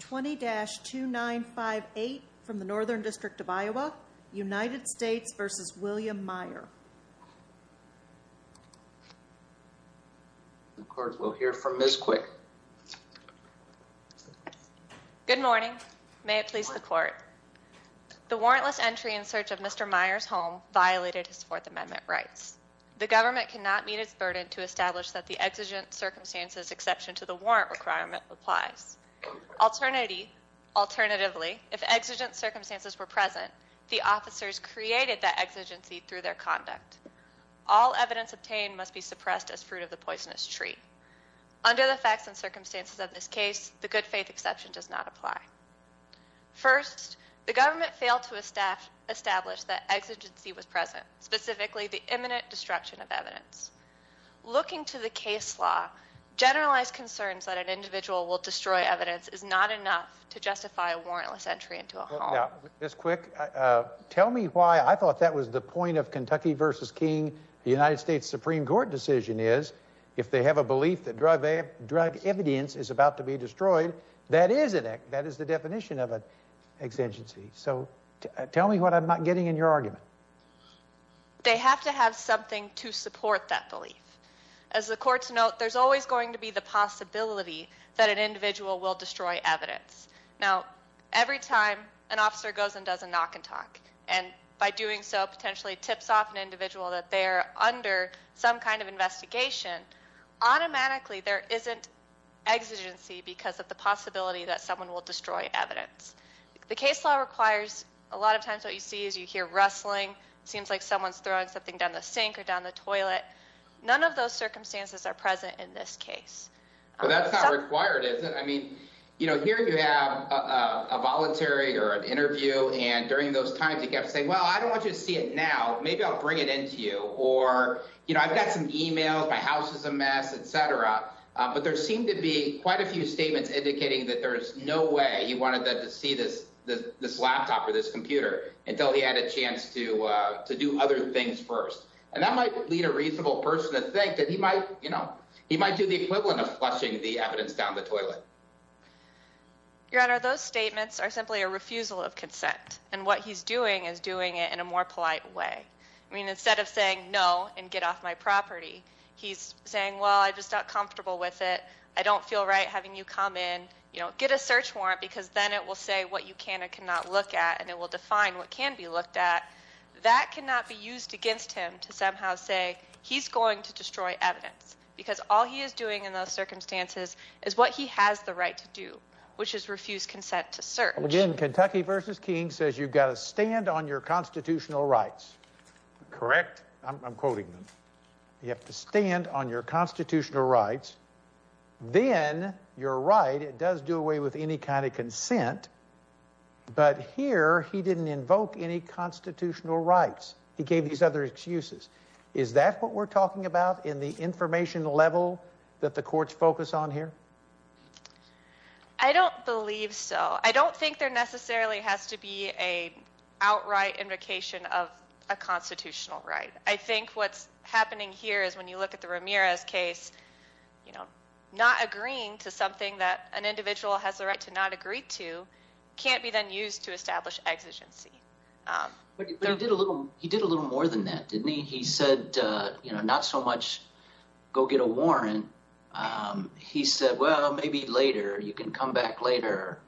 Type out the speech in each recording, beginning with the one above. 20-2958 from the Northern District of Iowa, United States v. William Meyer The court will hear from Ms. Quick. Good morning, may it please the court. The warrantless entry in search of Mr. Meyer's home violated his Fourth Amendment rights. The government cannot meet its burden to establish that the exigent circumstances exception to the warrant requirement applies. Alternatively, if exigent circumstances were present, the officers created that exigency through their conduct. All evidence obtained must be suppressed as fruit of the poisonous tree. Under the facts and circumstances of this case, the good-faith exception does not apply. First, the government failed to establish that exigency was present, specifically the imminent destruction of Generalized concerns that an individual will destroy evidence is not enough to justify a warrantless entry into a home. Ms. Quick, tell me why I thought that was the point of Kentucky v. King, the United States Supreme Court decision is, if they have a belief that drug evidence is about to be destroyed, that is the definition of an exigency. So tell me what I'm not getting in your argument. They have to have something to support that belief. As the case law requires, a lot of times what you see is you hear rustling, seems like circumstances are present in Kentucky v. King. So what I'm getting at is that there is a possibility that an individual will destroy evidence. Now, every time an officer goes and does a knock and talk, and by doing so potentially tips off an individual that they are under some kind of investigation, automatically there isn't exigency because of the possibility that an individual will destroy evidence in this case. But that's not required, is it? Here you have a voluntary or an interview, and during those times he kept saying, well, I don't want you to see it now, maybe I'll bring it into you. Or, I've got some emails, my house is a mess, etc. But there seem to be quite a few statements indicating that there is no way he wanted them to see this laptop or this computer until he had a chance to do other things first. And that might lead a reasonable person to think that he might do the equivalent of flushing the evidence down the toilet. Your Honor, those statements are simply a refusal of consent, and what he's doing is doing it in a more polite way. I mean, instead of saying no and get off my property, he's saying, well, I just got comfortable with it, I don't feel right having you come in, get a search warrant because then it will say what you can and cannot look at, and it will define what can be looked at. That cannot be used against him to somehow say he's going to destroy evidence, because all he is doing in those circumstances is what he has the right to do, which is refuse consent to search. Again, Kentucky v. King says you've got to stand on your constitutional rights. Correct? I'm quoting them. You have to stand on your constitutional rights, then your right, it does do away with any kind of consent, but here he didn't invoke any constitutional rights. He gave these other excuses. Is that what we're talking about in the information level that the courts focus on here? I don't believe so. I don't think there necessarily has to be an outright invocation of a constitutional right. I think what's happening here is when you look at the Ramirez case, you know, not agreeing to something that an individual has the right to not agree to can't be then used to establish exigency. He did a little more than that, didn't he? He said not so much go get a warrant. He said, well, maybe later. You can come back later.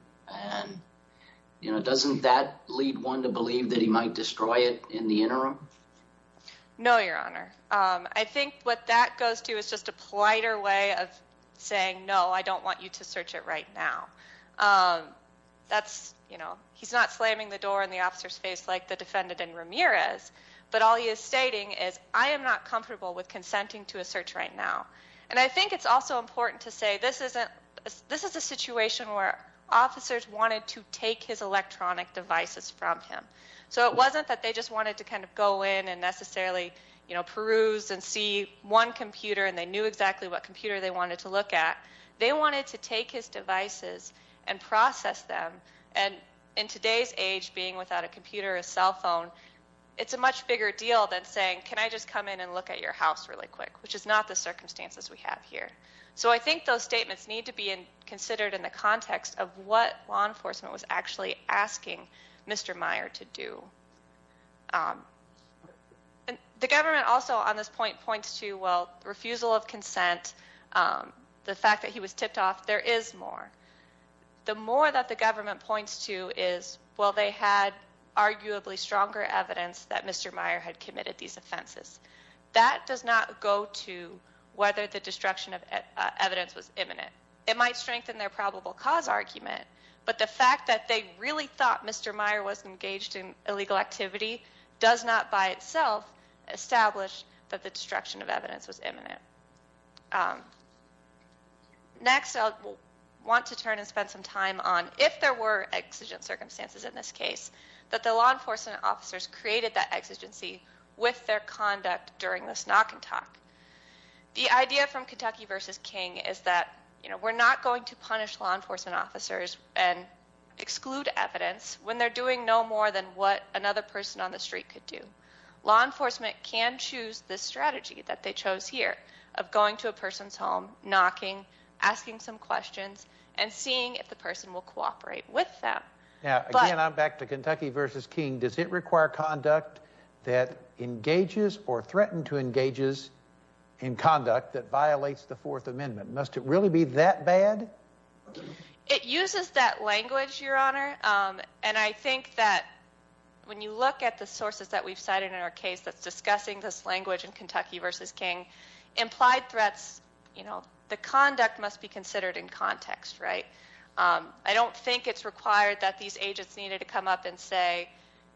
Doesn't that lead one to believe that he might destroy it in the interim? No, Your Honor. I think what that goes to is just a politer way of saying no, I don't want you to search it right now. He's not slamming the door in the officer's face like the defendant in Ramirez, but all he is stating is I am not comfortable with consenting to a search right now. I think it's also important to say this is a situation where officers wanted to take his electronic devices from him. So it wasn't that they just wanted to kind of go in and necessarily peruse and see one computer and they knew exactly what computer they wanted to look at. They wanted to take his devices and process them. And in today's age being without a computer or cell phone, it's a much bigger deal than saying can I just come in and look at your house really quick, which is not the circumstances we have here. So I think those statements need to be considered in the context of what law enforcement was actually asking Mr. Meyer to do. The government also on this point points to, well, the fact that he was tipped off, there is more. The more that the government points to is, well, they had arguably stronger evidence that Mr. Meyer had committed these offenses. That does not go to whether the destruction of evidence was imminent. It might strengthen their probable cause argument, but the fact that they really thought Mr. Meyer was engaged in illegal activity does not by itself establish that the Next I'll want to turn and spend some time on if there were exigent circumstances in this case that the law enforcement officers created that exigency with their conduct during this knock and talk. The idea from Kentucky v. King is that we're not going to punish law enforcement officers and exclude evidence when they're doing no more than what another person on the street could do. Law enforcement can choose this strategy that they chose here of going to a person's home, knocking, asking some questions, and seeing if the person will cooperate with them. Again, I'm back to Kentucky v. King. Does it require conduct that engages or threatened to engages in conduct that violates the Fourth Amendment? Must it really be that bad? It uses that language, Your Honor, and I think that when you look at the sources that we've cited in our case that's discussing this language in Kentucky v. King, implied threats, you know, the conduct must be considered in context, right? I don't think it's required that these agents needed to come up and say,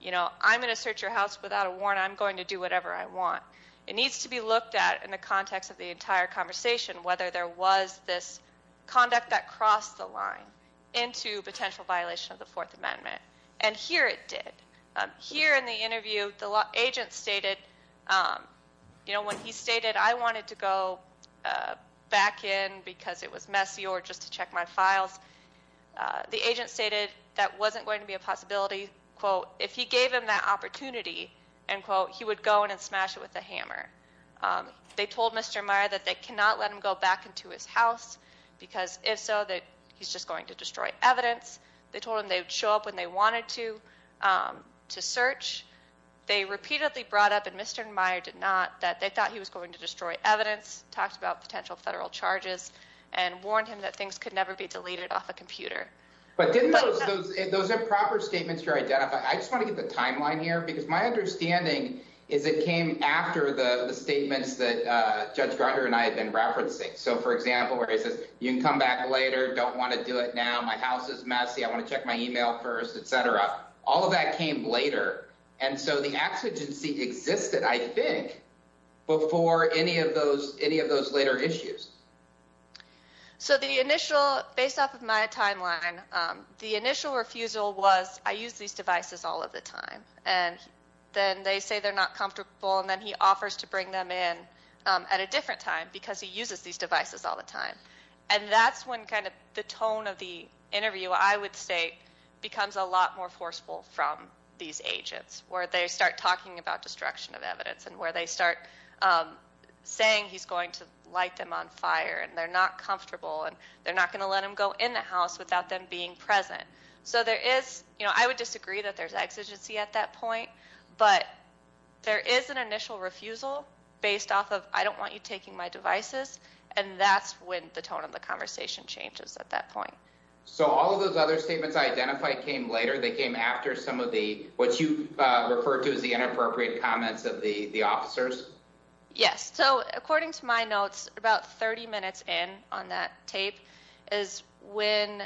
you know, I'm going to search your house without a warrant. I'm going to do whatever I want. It needs to be looked at in the context of the entire conversation, whether there was this conduct that crossed the line into potential violation of the Fourth Amendment. And here it did. Here in the interview, the agent stated, you know, when he stated I wanted to go back in because it was messy or just to check my files, the agent stated that wasn't going to be a possibility, quote, if he gave him that opportunity, end quote, he would go in and smash it with a hammer. They told Mr. Meyer that they cannot let him go back into his house because if so, that he's just going to destroy evidence. They told him they would show up when they wanted to to search. They repeatedly brought up and Mr. Meyer did not that they thought he was going to destroy evidence, talked about potential federal charges and warned him that things could never be deleted off a computer. But didn't those those improper statements to identify? I just want to get the timeline here because my understanding is it came after the statements that Judge Gardner and I have been referencing. So for example, where he says you can come back later. Don't want to do it now. My house is messy. I want to check my email first, etc. All of that came later. And so the exigency existed, I think, before any of those any of those later issues. So the initial based off of my timeline, the initial refusal was I use these devices all of the time. And then they say they're not comfortable. And then he offers to bring them in at a different time because he uses these devices all the time. And that's when kind of the tone of the interview, I would say, becomes a these agents where they start talking about destruction of evidence and where they start saying he's going to light them on fire and they're not comfortable and they're not going to let him go in the house without them being present. So there is, you know, I would disagree that there's exigency at that point, but there is an initial refusal based off of I don't want you taking my devices. And that's when the tone of the conversation changes at that point. So all of those other statements identified came later. They came after some of the what you refer to as the inappropriate comments of the officers. Yes. So according to my notes, about 30 minutes in on that tape is when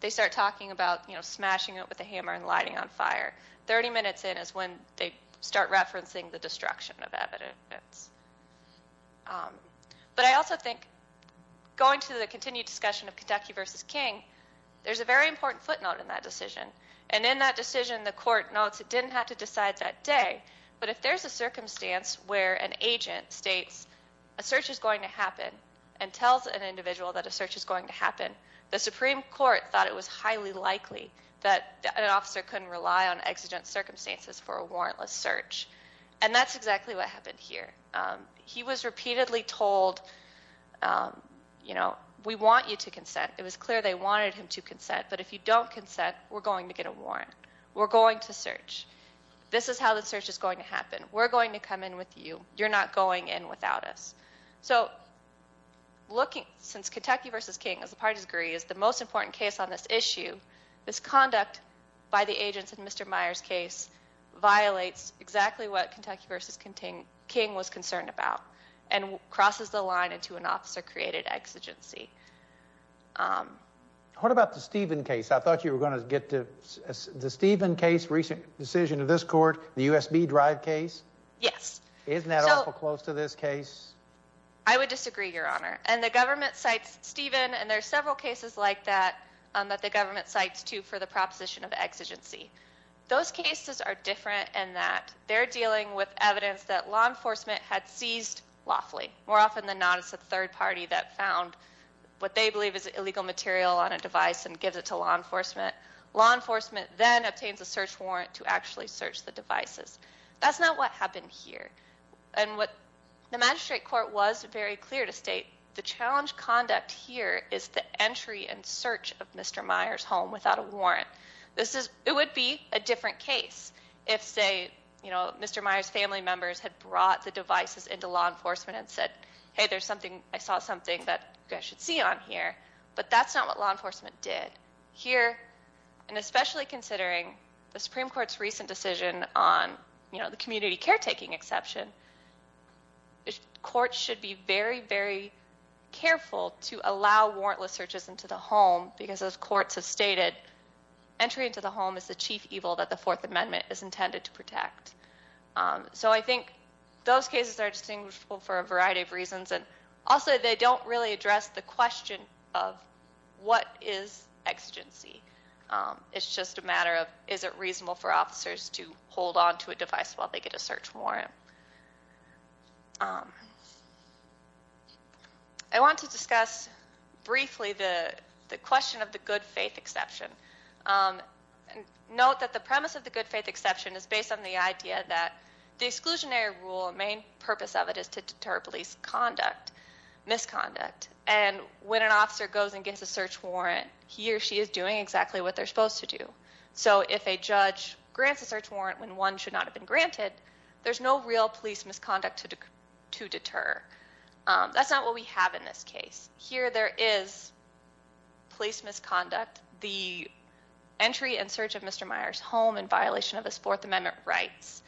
they start talking about, you know, smashing it with a hammer and lighting on fire. 30 minutes in is when they start referencing the destruction of evidence. But I also think going to the continued discussion of Kentucky versus King, there's a very important footnote in that decision. And in that decision, the court notes it didn't have to decide that day. But if there's a circumstance where an agent states a search is going to happen and tells an individual that a search is going to happen, the Supreme Court thought it was highly likely that an officer couldn't rely on exigent circumstances for a warrantless search. And that's exactly what happened here. He was repeatedly told, you know, we want you to consent. It was clear they wanted him to consent. But if you don't consent, we're going to get a warrant. We're going to search. This is how the search is going to happen. We're going to come in with you. You're not going in without us. So since Kentucky versus King, as the parties agree, is the most important case on this issue, this conduct by the agents in Mr. Meyer's case violates exactly what Kentucky versus King was concerned about and crosses the line into an officer-created exigency. What about the Stephen case? I thought you were going to get to the Stephen case, recent decision of this court, the USB drive case. Yes. Isn't that awful close to this case? I would disagree, Your Honor. And the government cites Stephen, and there are several cases like that that the government cites too for the proposition of exigency. Those cases are evidence that law enforcement had seized lawfully. More often than not, it's the third party that found what they believe is illegal material on a device and gives it to law enforcement. Law enforcement then obtains a search warrant to actually search the devices. That's not what happened here. And what the magistrate court was very clear to state, the challenge conduct here is the entry and search of Mr. Meyer's home without a warrant. It would be a different case if, say, Mr. Meyer's family members had brought the devices into law enforcement and said, hey, I saw something that you guys should see on here. But that's not what law enforcement did. Here, and especially considering the Supreme Court's recent decision on the community caretaking exception, courts should be very, very careful to allow warrantless searches into the home because, as courts have stated, entry into the home is the chief evil that the Fourth Amendment is intended to protect. So I think those cases are distinguishable for a variety of reasons. And also, they don't really address the question of what is exigency. It's just a matter of, is it reasonable for officers to hold onto a device while they get a search warrant? I want to discuss briefly the question of the good faith exception. Note that the premise of the good faith exception is based on the idea that the exclusionary rule, the main purpose of it, is to deter police misconduct. And when an officer goes and gets a search warrant, he or she is doing exactly what they're supposed to do. So if a judge grants a search warrant when one should not have been granted, there's no real police misconduct to deter. That's not what we have in this case. Here there is police misconduct. The entry and search of Mr. Meyer's home in violation of his Fourth Amendment rights.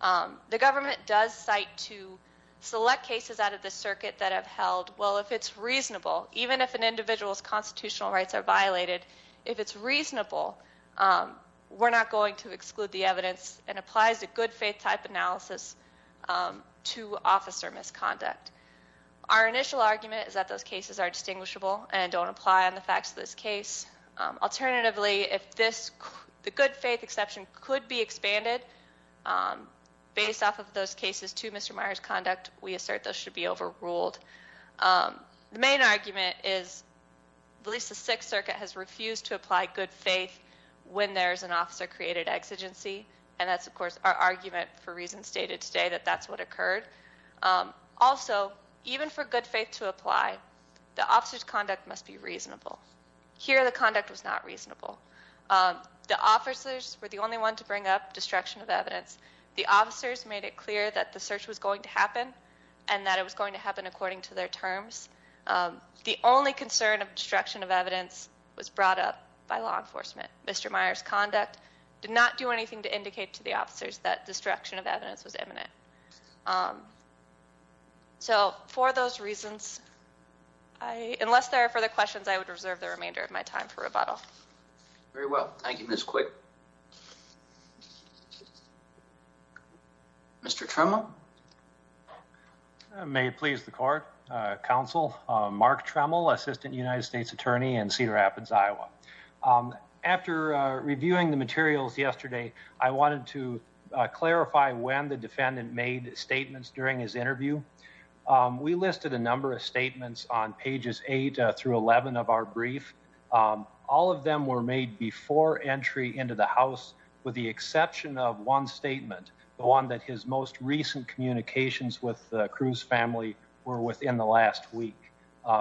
The government does cite to select cases out of the circuit that have held, well, if it's reasonable, even if an individual's constitutional rights are violated, if it's reasonable, we're not going to exclude the evidence and applies a good faith type analysis to officer misconduct. Our initial argument is that those cases are distinguishable and don't apply on the facts of this case. Alternatively, if the good faith exception could be expanded based off of those cases to Mr. Meyer's conduct, we assert those should be overruled. The main argument is at least the Sixth Circuit has refused to apply good faith when there is an officer-created exigency. And that's, of course, our argument for reasons stated today that that's what occurred. Also, even for good faith to apply, the officer's conduct must be reasonable. Here the conduct was not reasonable. The officers were the only one to bring up destruction of evidence. The officers made it clear that the search was going to happen and that it was going to happen according to their terms. The only concern of destruction of evidence was brought up by law enforcement. Mr. Meyer's conduct did not do anything to indicate to the officers that destruction of evidence was imminent. For those reasons, unless there are further questions, I would reserve the remainder of my time for rebuttal. Very well. Thank you, Ms. Quick. Mr. Tremel? May it please the Court, Counsel, Mark Tremel, Assistant United States Attorney in Cedar Rapids, Iowa. After reviewing the materials yesterday, I wanted to clarify when the defendant made statements during his interview. We listed a number of statements on pages 8 through 11 of our brief. All of them were made before entry into the house, with the exception of one statement, the one that his most recent communications with the Cruz family were within the last week.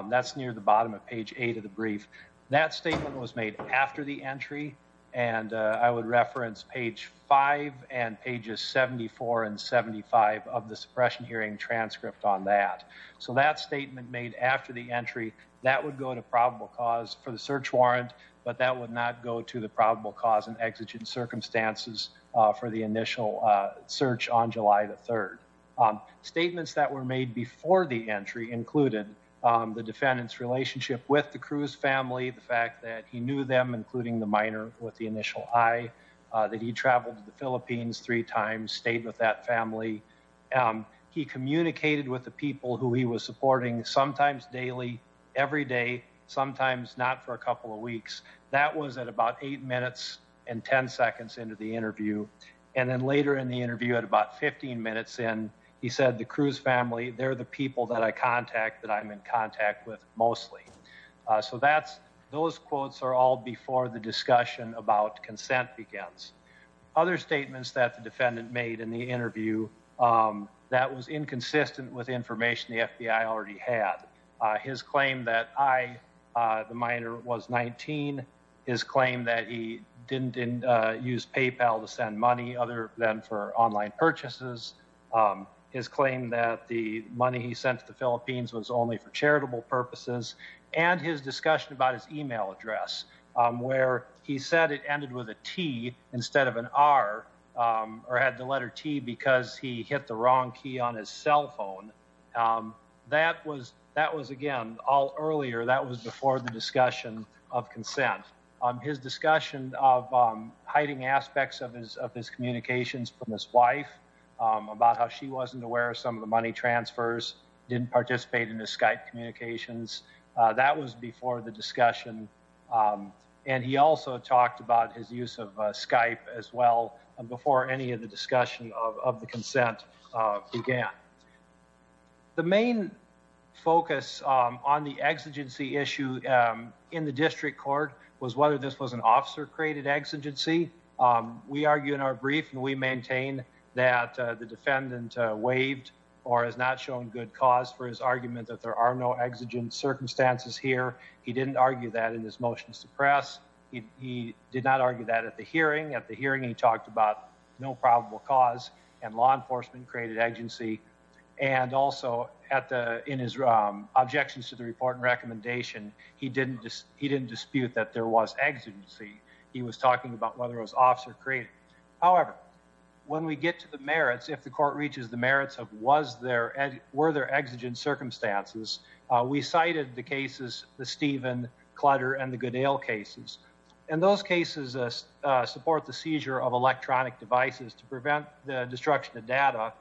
That's near the bottom of page 8 of the brief. That statement was made after the entry, and I would reference page 5 and pages 74 and 75 of the suppression hearing transcript on that. That statement made after the entry, that would go to probable cause for the search warrant, but that would not go to the probable cause in exigent circumstances for the initial search on July 3rd. Statements that were made before the entry included the defendant's relationship with the Cruz family, the fact that he knew them, including the minor with the initial I, that he traveled to the Philippines three times, stayed with that family. He communicated with the people who he was supporting, sometimes daily, every day, sometimes not for a couple of weeks. That was at about 8 minutes and 10 seconds into the interview, and then later in the interview at about 15 minutes in, he said the Cruz family, they're the people that I contact, that I'm in contact with mostly. Those quotes are all before the discussion about consent begins. Other statements that the defendant made in the interview, that was inconsistent with information the FBI already had. His claim that I, the minor, was 19, his claim that he didn't use PayPal to send money other than for online purchases, his claim that the money he sent to the Philippines was only for charitable purposes, and his discussion about his email address where he said it ended with a T instead of an R, or had the letter T because he hit the wrong key on his cell phone. That was, again, all earlier, that was before the discussion of consent. His discussion of hiding aspects of his communications from his wife, about how she wasn't aware of some of the money transfers, didn't participate in his Skype communications. That was before the discussion, and he also talked about his use of Skype as well, before any of the discussion of the consent began. The main focus on the exigency issue in the district court was whether this was an officer-created exigency. We argue in our brief, and we maintain that the court has not shown good cause for his argument that there are no exigent circumstances here. He didn't argue that in his motions to press. He did not argue that at the hearing. At the hearing, he talked about no probable cause, and law enforcement created exigency, and also in his objections to the report and recommendation, he didn't dispute that there was exigency. He was talking about whether it was officer-created. However, when we get to the merits, if the court reaches the merits of were there exigent circumstances, we cited the cases the Stephen, Clutter, and the Goodale cases. And those cases support the seizure of electronic devices to prevent the destruction of data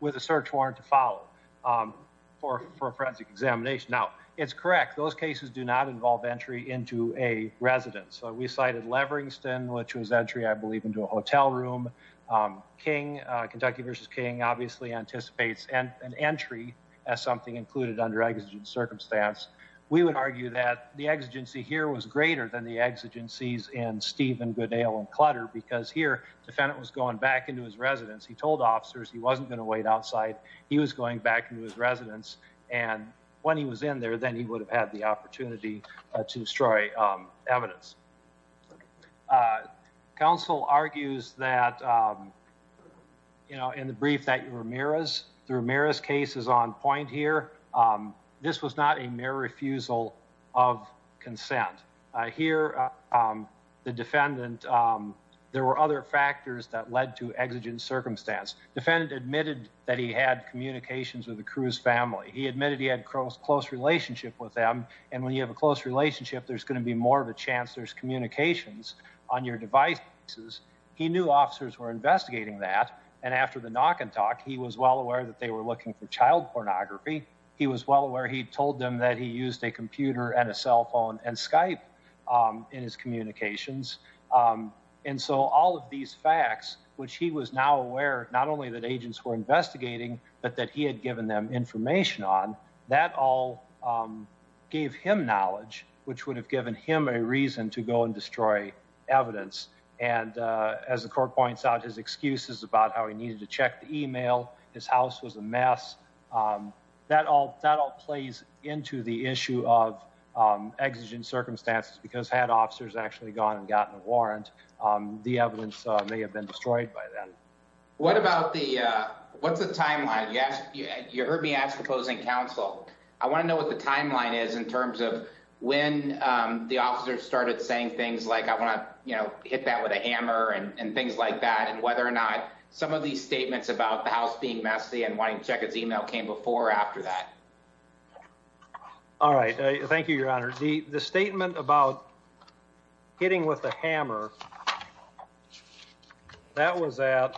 with a search warrant to follow for a forensic examination. Now, it's correct, those cases do not involve entry into a residence. We cited Leveringston, which was entry, I believe, into a hotel room. Kentucky v. King obviously anticipates an entry as something included under exigent circumstance. We would argue that the exigency here was greater than the exigencies in Stephen, Goodale, and Clutter because here, the defendant was going back into his residence. He told officers he wasn't going to wait outside. He was going back into his residence, and when he was in there, then he would have had the opportunity to destroy evidence. Counsel argues that, you know, in the brief that Ramirez through Ramirez's case is on point here, this was not a mere refusal of consent. Here, the defendant, there were other factors that led to exigent circumstance. Defendant admitted that he had communications with the Cruz family. He admitted he had a close relationship with them, and when you have a close relationship, there's going to be more of a chance there's communications on your devices. He knew officers were investigating that, and after the knock and talk, he was well aware that they were looking for child pornography. He was well aware. He told them that he used a computer and a cell phone and Skype in his communications, and so all of these facts, which he was now aware, not only that agents were investigating, but that he had given them information on, that all gave him knowledge, which would have given him a reason to go and destroy evidence, and as the court points out, his excuses about how he needed to check the email, his house was a mess, that all plays into the issue of exigent circumstances, because had officers actually gone and gotten a warrant, the evidence may have been destroyed by then. What about the, what's the timeline? You heard me ask the opposing counsel. I want to know what the timeline is in terms of when the officers started saying things like, I want to hit that with a hammer and things like that, and whether or not some of these statements about the house being messy and wanting to check its email came before or after that. Alright, thank you, Your Honor. The statement about hitting with a hammer, that was at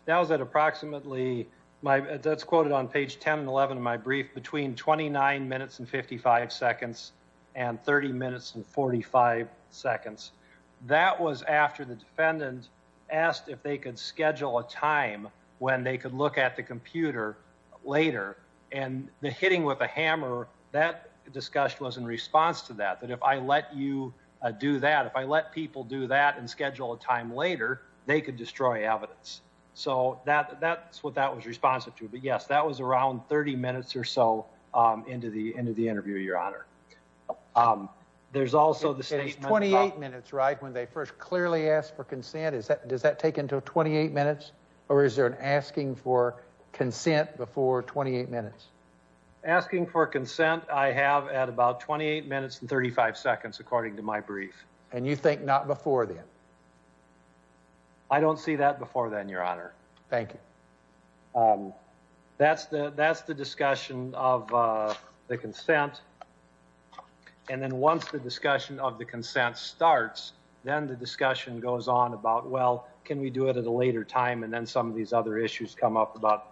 approximately that was at approximately, that's quoted on page 10 and 11 of my brief, between 29 minutes and 55 seconds and 30 minutes and 45 seconds. That was after the defendant asked if they could schedule a time when they could look at the computer later, and the hitting with a hammer, that discussion was in response to that, that if I let you do that, if I let people do that and schedule a time later, they could destroy evidence. So that's what that was responsive to, but yes, that was around 30 minutes or so into the interview, Your Honor. There's also the statement about... It's 28 minutes, right, when they first clearly ask for consent? Does that take until 28 minutes, or is there an asking for asking for consent? I have at about 28 minutes and 35 seconds, according to my brief. And you think not before then? I don't see that before then, Your Honor. Thank you. That's the discussion of the consent, and then once the discussion of the consent starts, then the discussion goes on about, well, can we do it at a later time? And then some of these other issues come up about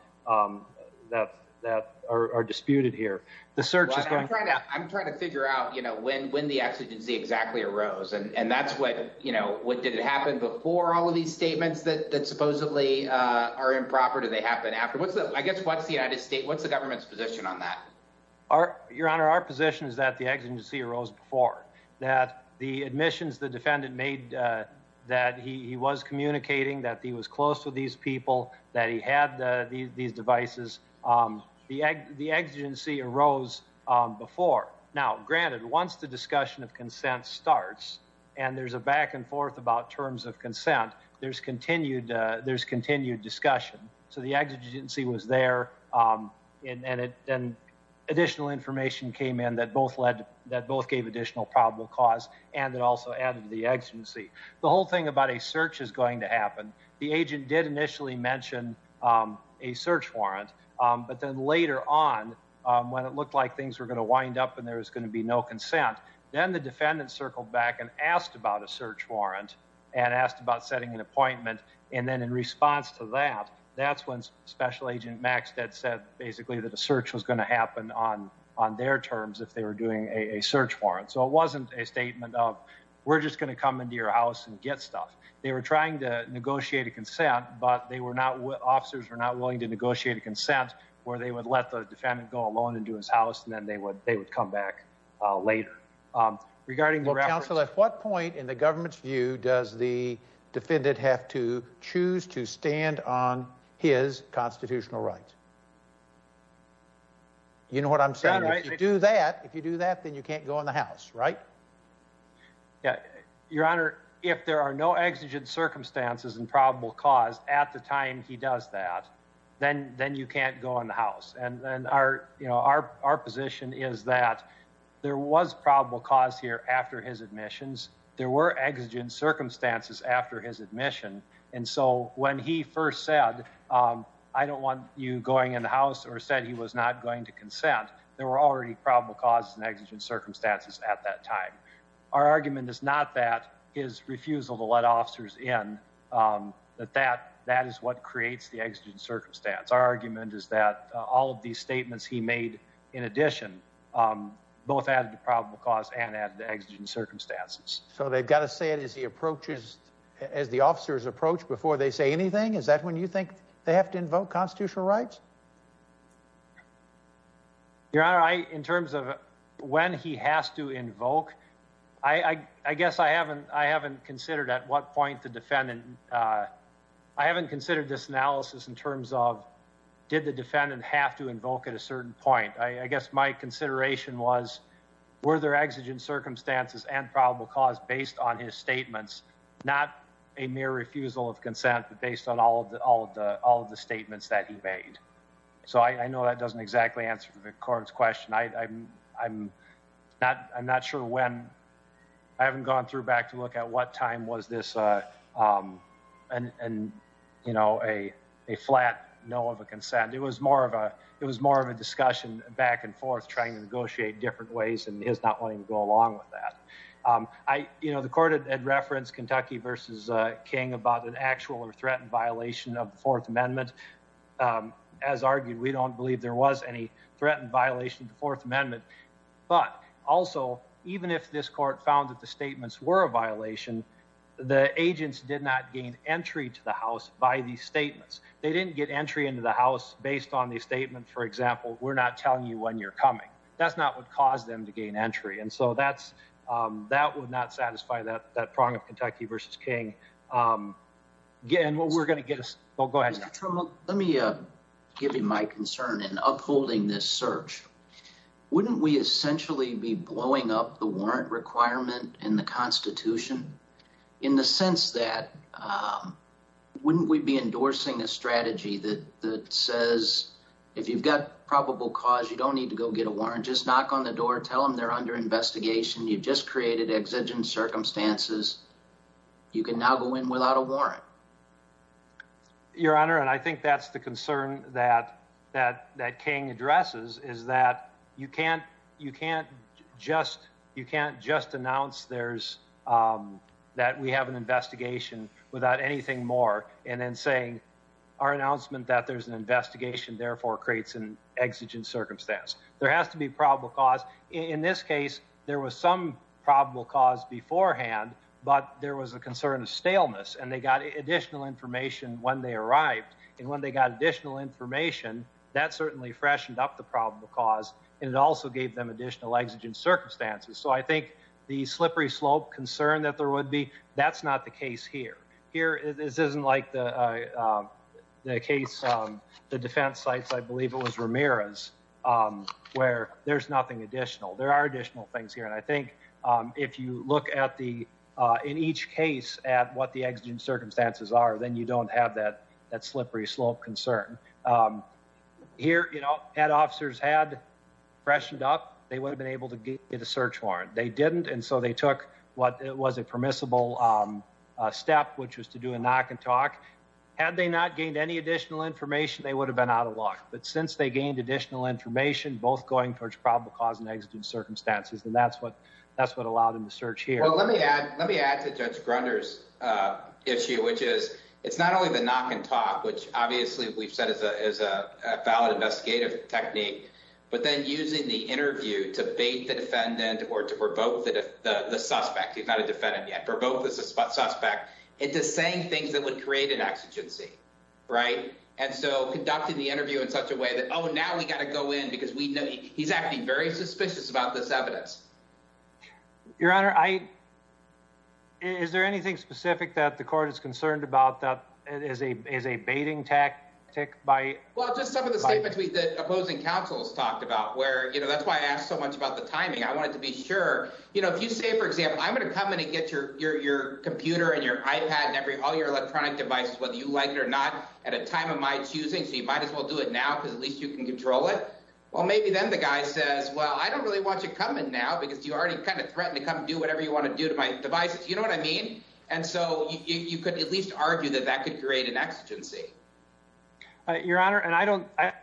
that are disputed here. I'm trying to figure out, you know, when the exigency exactly arose, and that's what, you know, did it happen before all of these statements that supposedly are improper? Did they happen after? I guess what's the United States, what's the government's position on that? Your Honor, our position is that the exigency arose before, that the admissions the defendant made that he was communicating, that he was close to these people, that he had these devices. The exigency arose before. Now, granted, once the discussion of consent starts, and there's a back and forth about terms of consent, there's continued discussion. So the exigency was there, and additional information came in that both gave additional probable cause, and it also added to the exigency. The whole thing about a search is that they initially mentioned a search warrant, but then later on, when it looked like things were going to wind up and there was going to be no consent, then the defendant circled back and asked about a search warrant and asked about setting an appointment, and then in response to that, that's when Special Agent Maxted said basically that a search was going to happen on their terms if they were doing a search warrant. So it wasn't a statement of, we're just going to come into your house and get stuff. They were trying to negotiate a consent, but officers were not willing to negotiate a consent where they would let the defendant go alone into his house and then they would come back later. Well, counsel, at what point in the government's view does the defendant have to choose to stand on his constitutional rights? You know what I'm saying. If you do that, if you do that, then you can't go in the house, right? Your Honor, if there are no exigent circumstances and probable cause at the time he does that, then you can't go in the house, and our position is that there was probable cause here after his admissions, there were exigent circumstances after his admission, and so when he first said, I don't want you going in the house or said he was not going to consent, there were already probable causes and exigent circumstances at that time. Our argument is not that his refusal to let officers in, that that is what creates the exigent circumstance. Our argument is that all of these statements he made in addition, both added to probable cause and added to exigent circumstances. So they've got to say it as he approaches, as the officers approach before they say anything? Is that when you think they have to invoke constitutional rights? Your Honor, I, in terms of when he has to invoke, I guess I haven't considered at what point the defendant, I haven't considered this analysis in terms of did the defendant have to invoke at a certain point? I guess my consideration was were there exigent circumstances and probable cause based on his statements? Not a mere refusal of consent, but based on all of the statements that he made. So I know that doesn't exactly answer the court's question. I'm not sure when I haven't gone through back to look at what time was this a flat no of a consent. It was more of a discussion back and forth trying to negotiate different ways and his not wanting to go along with that. The court had referenced Kentucky v. King about an actual threat and violation of the Fourth Amendment. As argued, we don't believe there was any threat and violation of the Fourth Amendment. But also, even if this court found that the statements were a violation, the agents did not gain entry to the House by these statements. They didn't get entry into the House based on the statement for example, we're not telling you when you're coming. That's not what caused them to gain entry. And so that's, that would not satisfy that prong of Kentucky v. King. Let me give you my concern in upholding this search. Wouldn't we essentially be blowing up the warrant requirement in the Constitution? In the sense that wouldn't we be endorsing a strategy that says if you've got probable cause, you don't need to go get a warrant. Just knock on the door, tell them they're under investigation. You've just created exigent circumstances. You can now go in without a warrant. Your Honor, and I think that's the concern that King addresses is that you can't just announce that we have an investigation without anything more and then saying our announcement that there's an investigation therefore creates an exigent circumstance. There has to be probable cause. In this case there was some probable cause beforehand, but there was a concern of staleness and they got additional information when they arrived and when they got additional information, that certainly freshened up the probable cause and it also gave them additional exigent circumstances. So I think the slippery slope concern that there would be, that's not the case here. Here, this isn't like the case the defense sites, I believe it was Ramirez, where there's nothing additional. There are additional things here and I think if you look at the, in each case, at what the exigent circumstances are, then you don't have that slippery slope concern. Here, head officers had freshened up. They would have been able to get a search warrant. They didn't and so they took what was a permissible step, which was to do a knock and talk. Had they not gained any additional information, they would have been out of luck. But since they gained additional information, both going towards probable cause and exigent circumstances, then that's what allowed them to search here. Let me add to Judge Grunder's issue, which is, it's not only the knock and talk, which obviously we've said is a valid investigative technique, but then using the interview to bait the defendant or to provoke the suspect, he's not a defendant yet, provoke the suspect into saying things that would create an exigency. Conducting the interview in such a way that, oh, now we got to go in because he's acting very suspicious about this evidence. Your Honor, is there anything specific that the court is concerned about that is a baiting tactic? Well, just some of the statements that opposing counsels talked about. That's why I asked so much about the timing. I wanted to be sure. If you say, for example, I'm going to come in and get your computer and your iPad and all your electronic devices, whether you like it or not, at a time of my choosing, so you might as well do it now because at least you can control it. Well, maybe then the guy says, well, I don't really want you coming now because you already kind of threatened to come do whatever you want to do to my devices. You know what I mean? And so you could at least argue that that could create an exigency. Your Honor, and I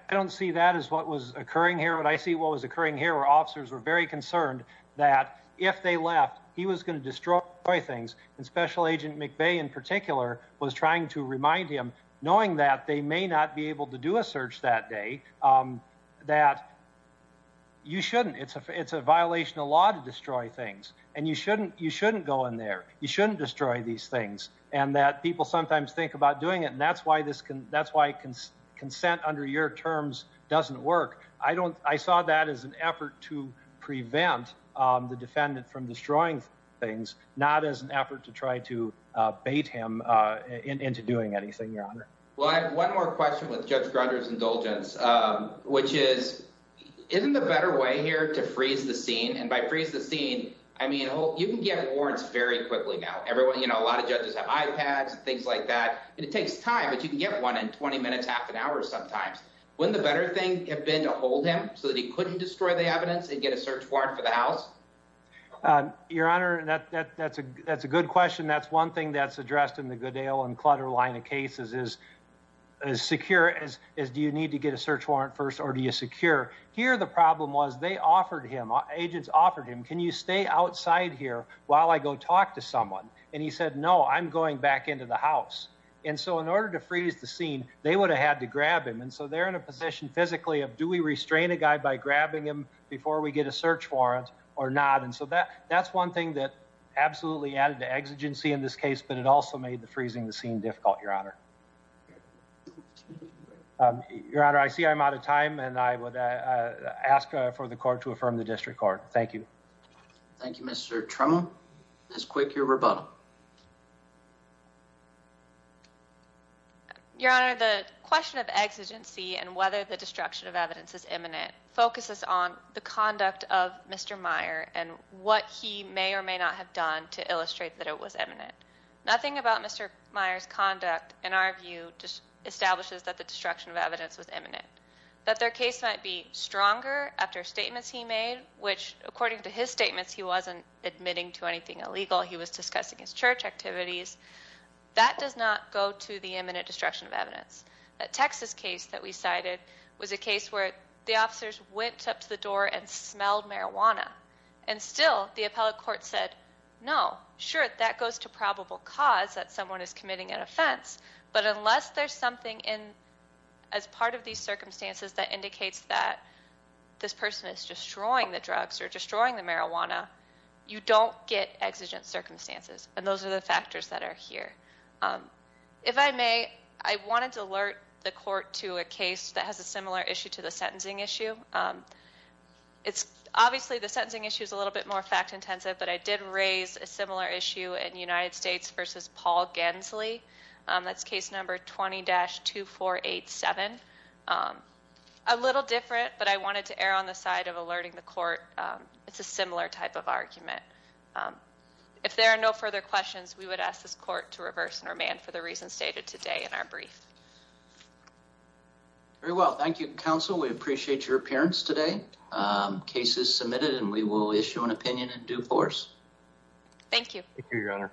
don't see that as what was occurring here, but I see what was occurring here where officers were very concerned that if they left, he was going to destroy things. And Special Agent McVeigh, in particular, was trying to remind him, knowing that they may not be able to do a search that day, that you shouldn't. It's a violation of law to destroy things, and you shouldn't go in there. You shouldn't destroy these things. And that people sometimes think about doing it, and that's why consent under your terms doesn't work. I saw that as an effort to prevent the defendant from destroying things, not as an effort to try to bait him into doing anything, Your Honor. Well, I have one more question with Judge Grudger's indulgence, which is, isn't there a better way here to freeze the scene? And by freeze the scene, I mean, you can get warrants very quickly now. A lot of judges have iPads and things like that, and it takes time, but you can get one in 20 minutes, half an hour sometimes. Wouldn't the better thing have been to hold him so that he couldn't destroy the evidence and get a warrant? Well, Your Honor, that's a good question. That's one thing that's addressed in the Goodale and Clutter line of cases is as secure as, do you need to get a search warrant first, or do you secure? Here, the problem was, they offered him, agents offered him, can you stay outside here while I go talk to someone? And he said, no, I'm going back into the house. And so in order to freeze the scene, they would have had to grab him. And so they're in a position physically of, do we restrain a guy by grabbing him before we get a search warrant or not? And so that's one thing that absolutely added to exigency in this case, but it also made the freezing the scene difficult, Your Honor. Your Honor, I see I'm out of time, and I would ask for the court to affirm the district court. Thank you. Thank you, Mr. Trummel. Ms. Quick, your rebuttal. Your Honor, the question of exigency and whether the destruction of evidence is imminent focuses on the conduct of Mr. Meyer and what he may or may not have done to illustrate that it was imminent. Nothing about Mr. Meyer's conduct, in our view, establishes that the destruction of evidence was imminent. That their case might be stronger after statements he made, which, according to his statements, he wasn't admitting to anything illegal. He was discussing his church activities. That does not go to the imminent destruction of evidence. That Texas case that we cited was a case where the officers went up to the door and smelled marijuana, and still the appellate court said no, sure, that goes to probable cause that someone is committing an offense, but unless there's something as part of these circumstances that indicates that this person is destroying the drugs or destroying the marijuana, you don't get exigent circumstances. And those are the factors that are here. If I may, I wanted to alert the court to a case that has a similar issue to the sentencing issue. Obviously the sentencing issue is a little bit more fact intensive, but I did raise a similar issue in United States versus Paul Gensley. That's case number 20-2487. A little different, but I wanted to err on the side of alerting the court. It's a similar type of argument. If there are no further questions, we would ask this court to reverse and remand for the reasons stated today in our brief. Very well, thank you counsel. We appreciate your appearance today. Case is submitted and we will issue an opinion in due course. Thank you. Thank you, your honor.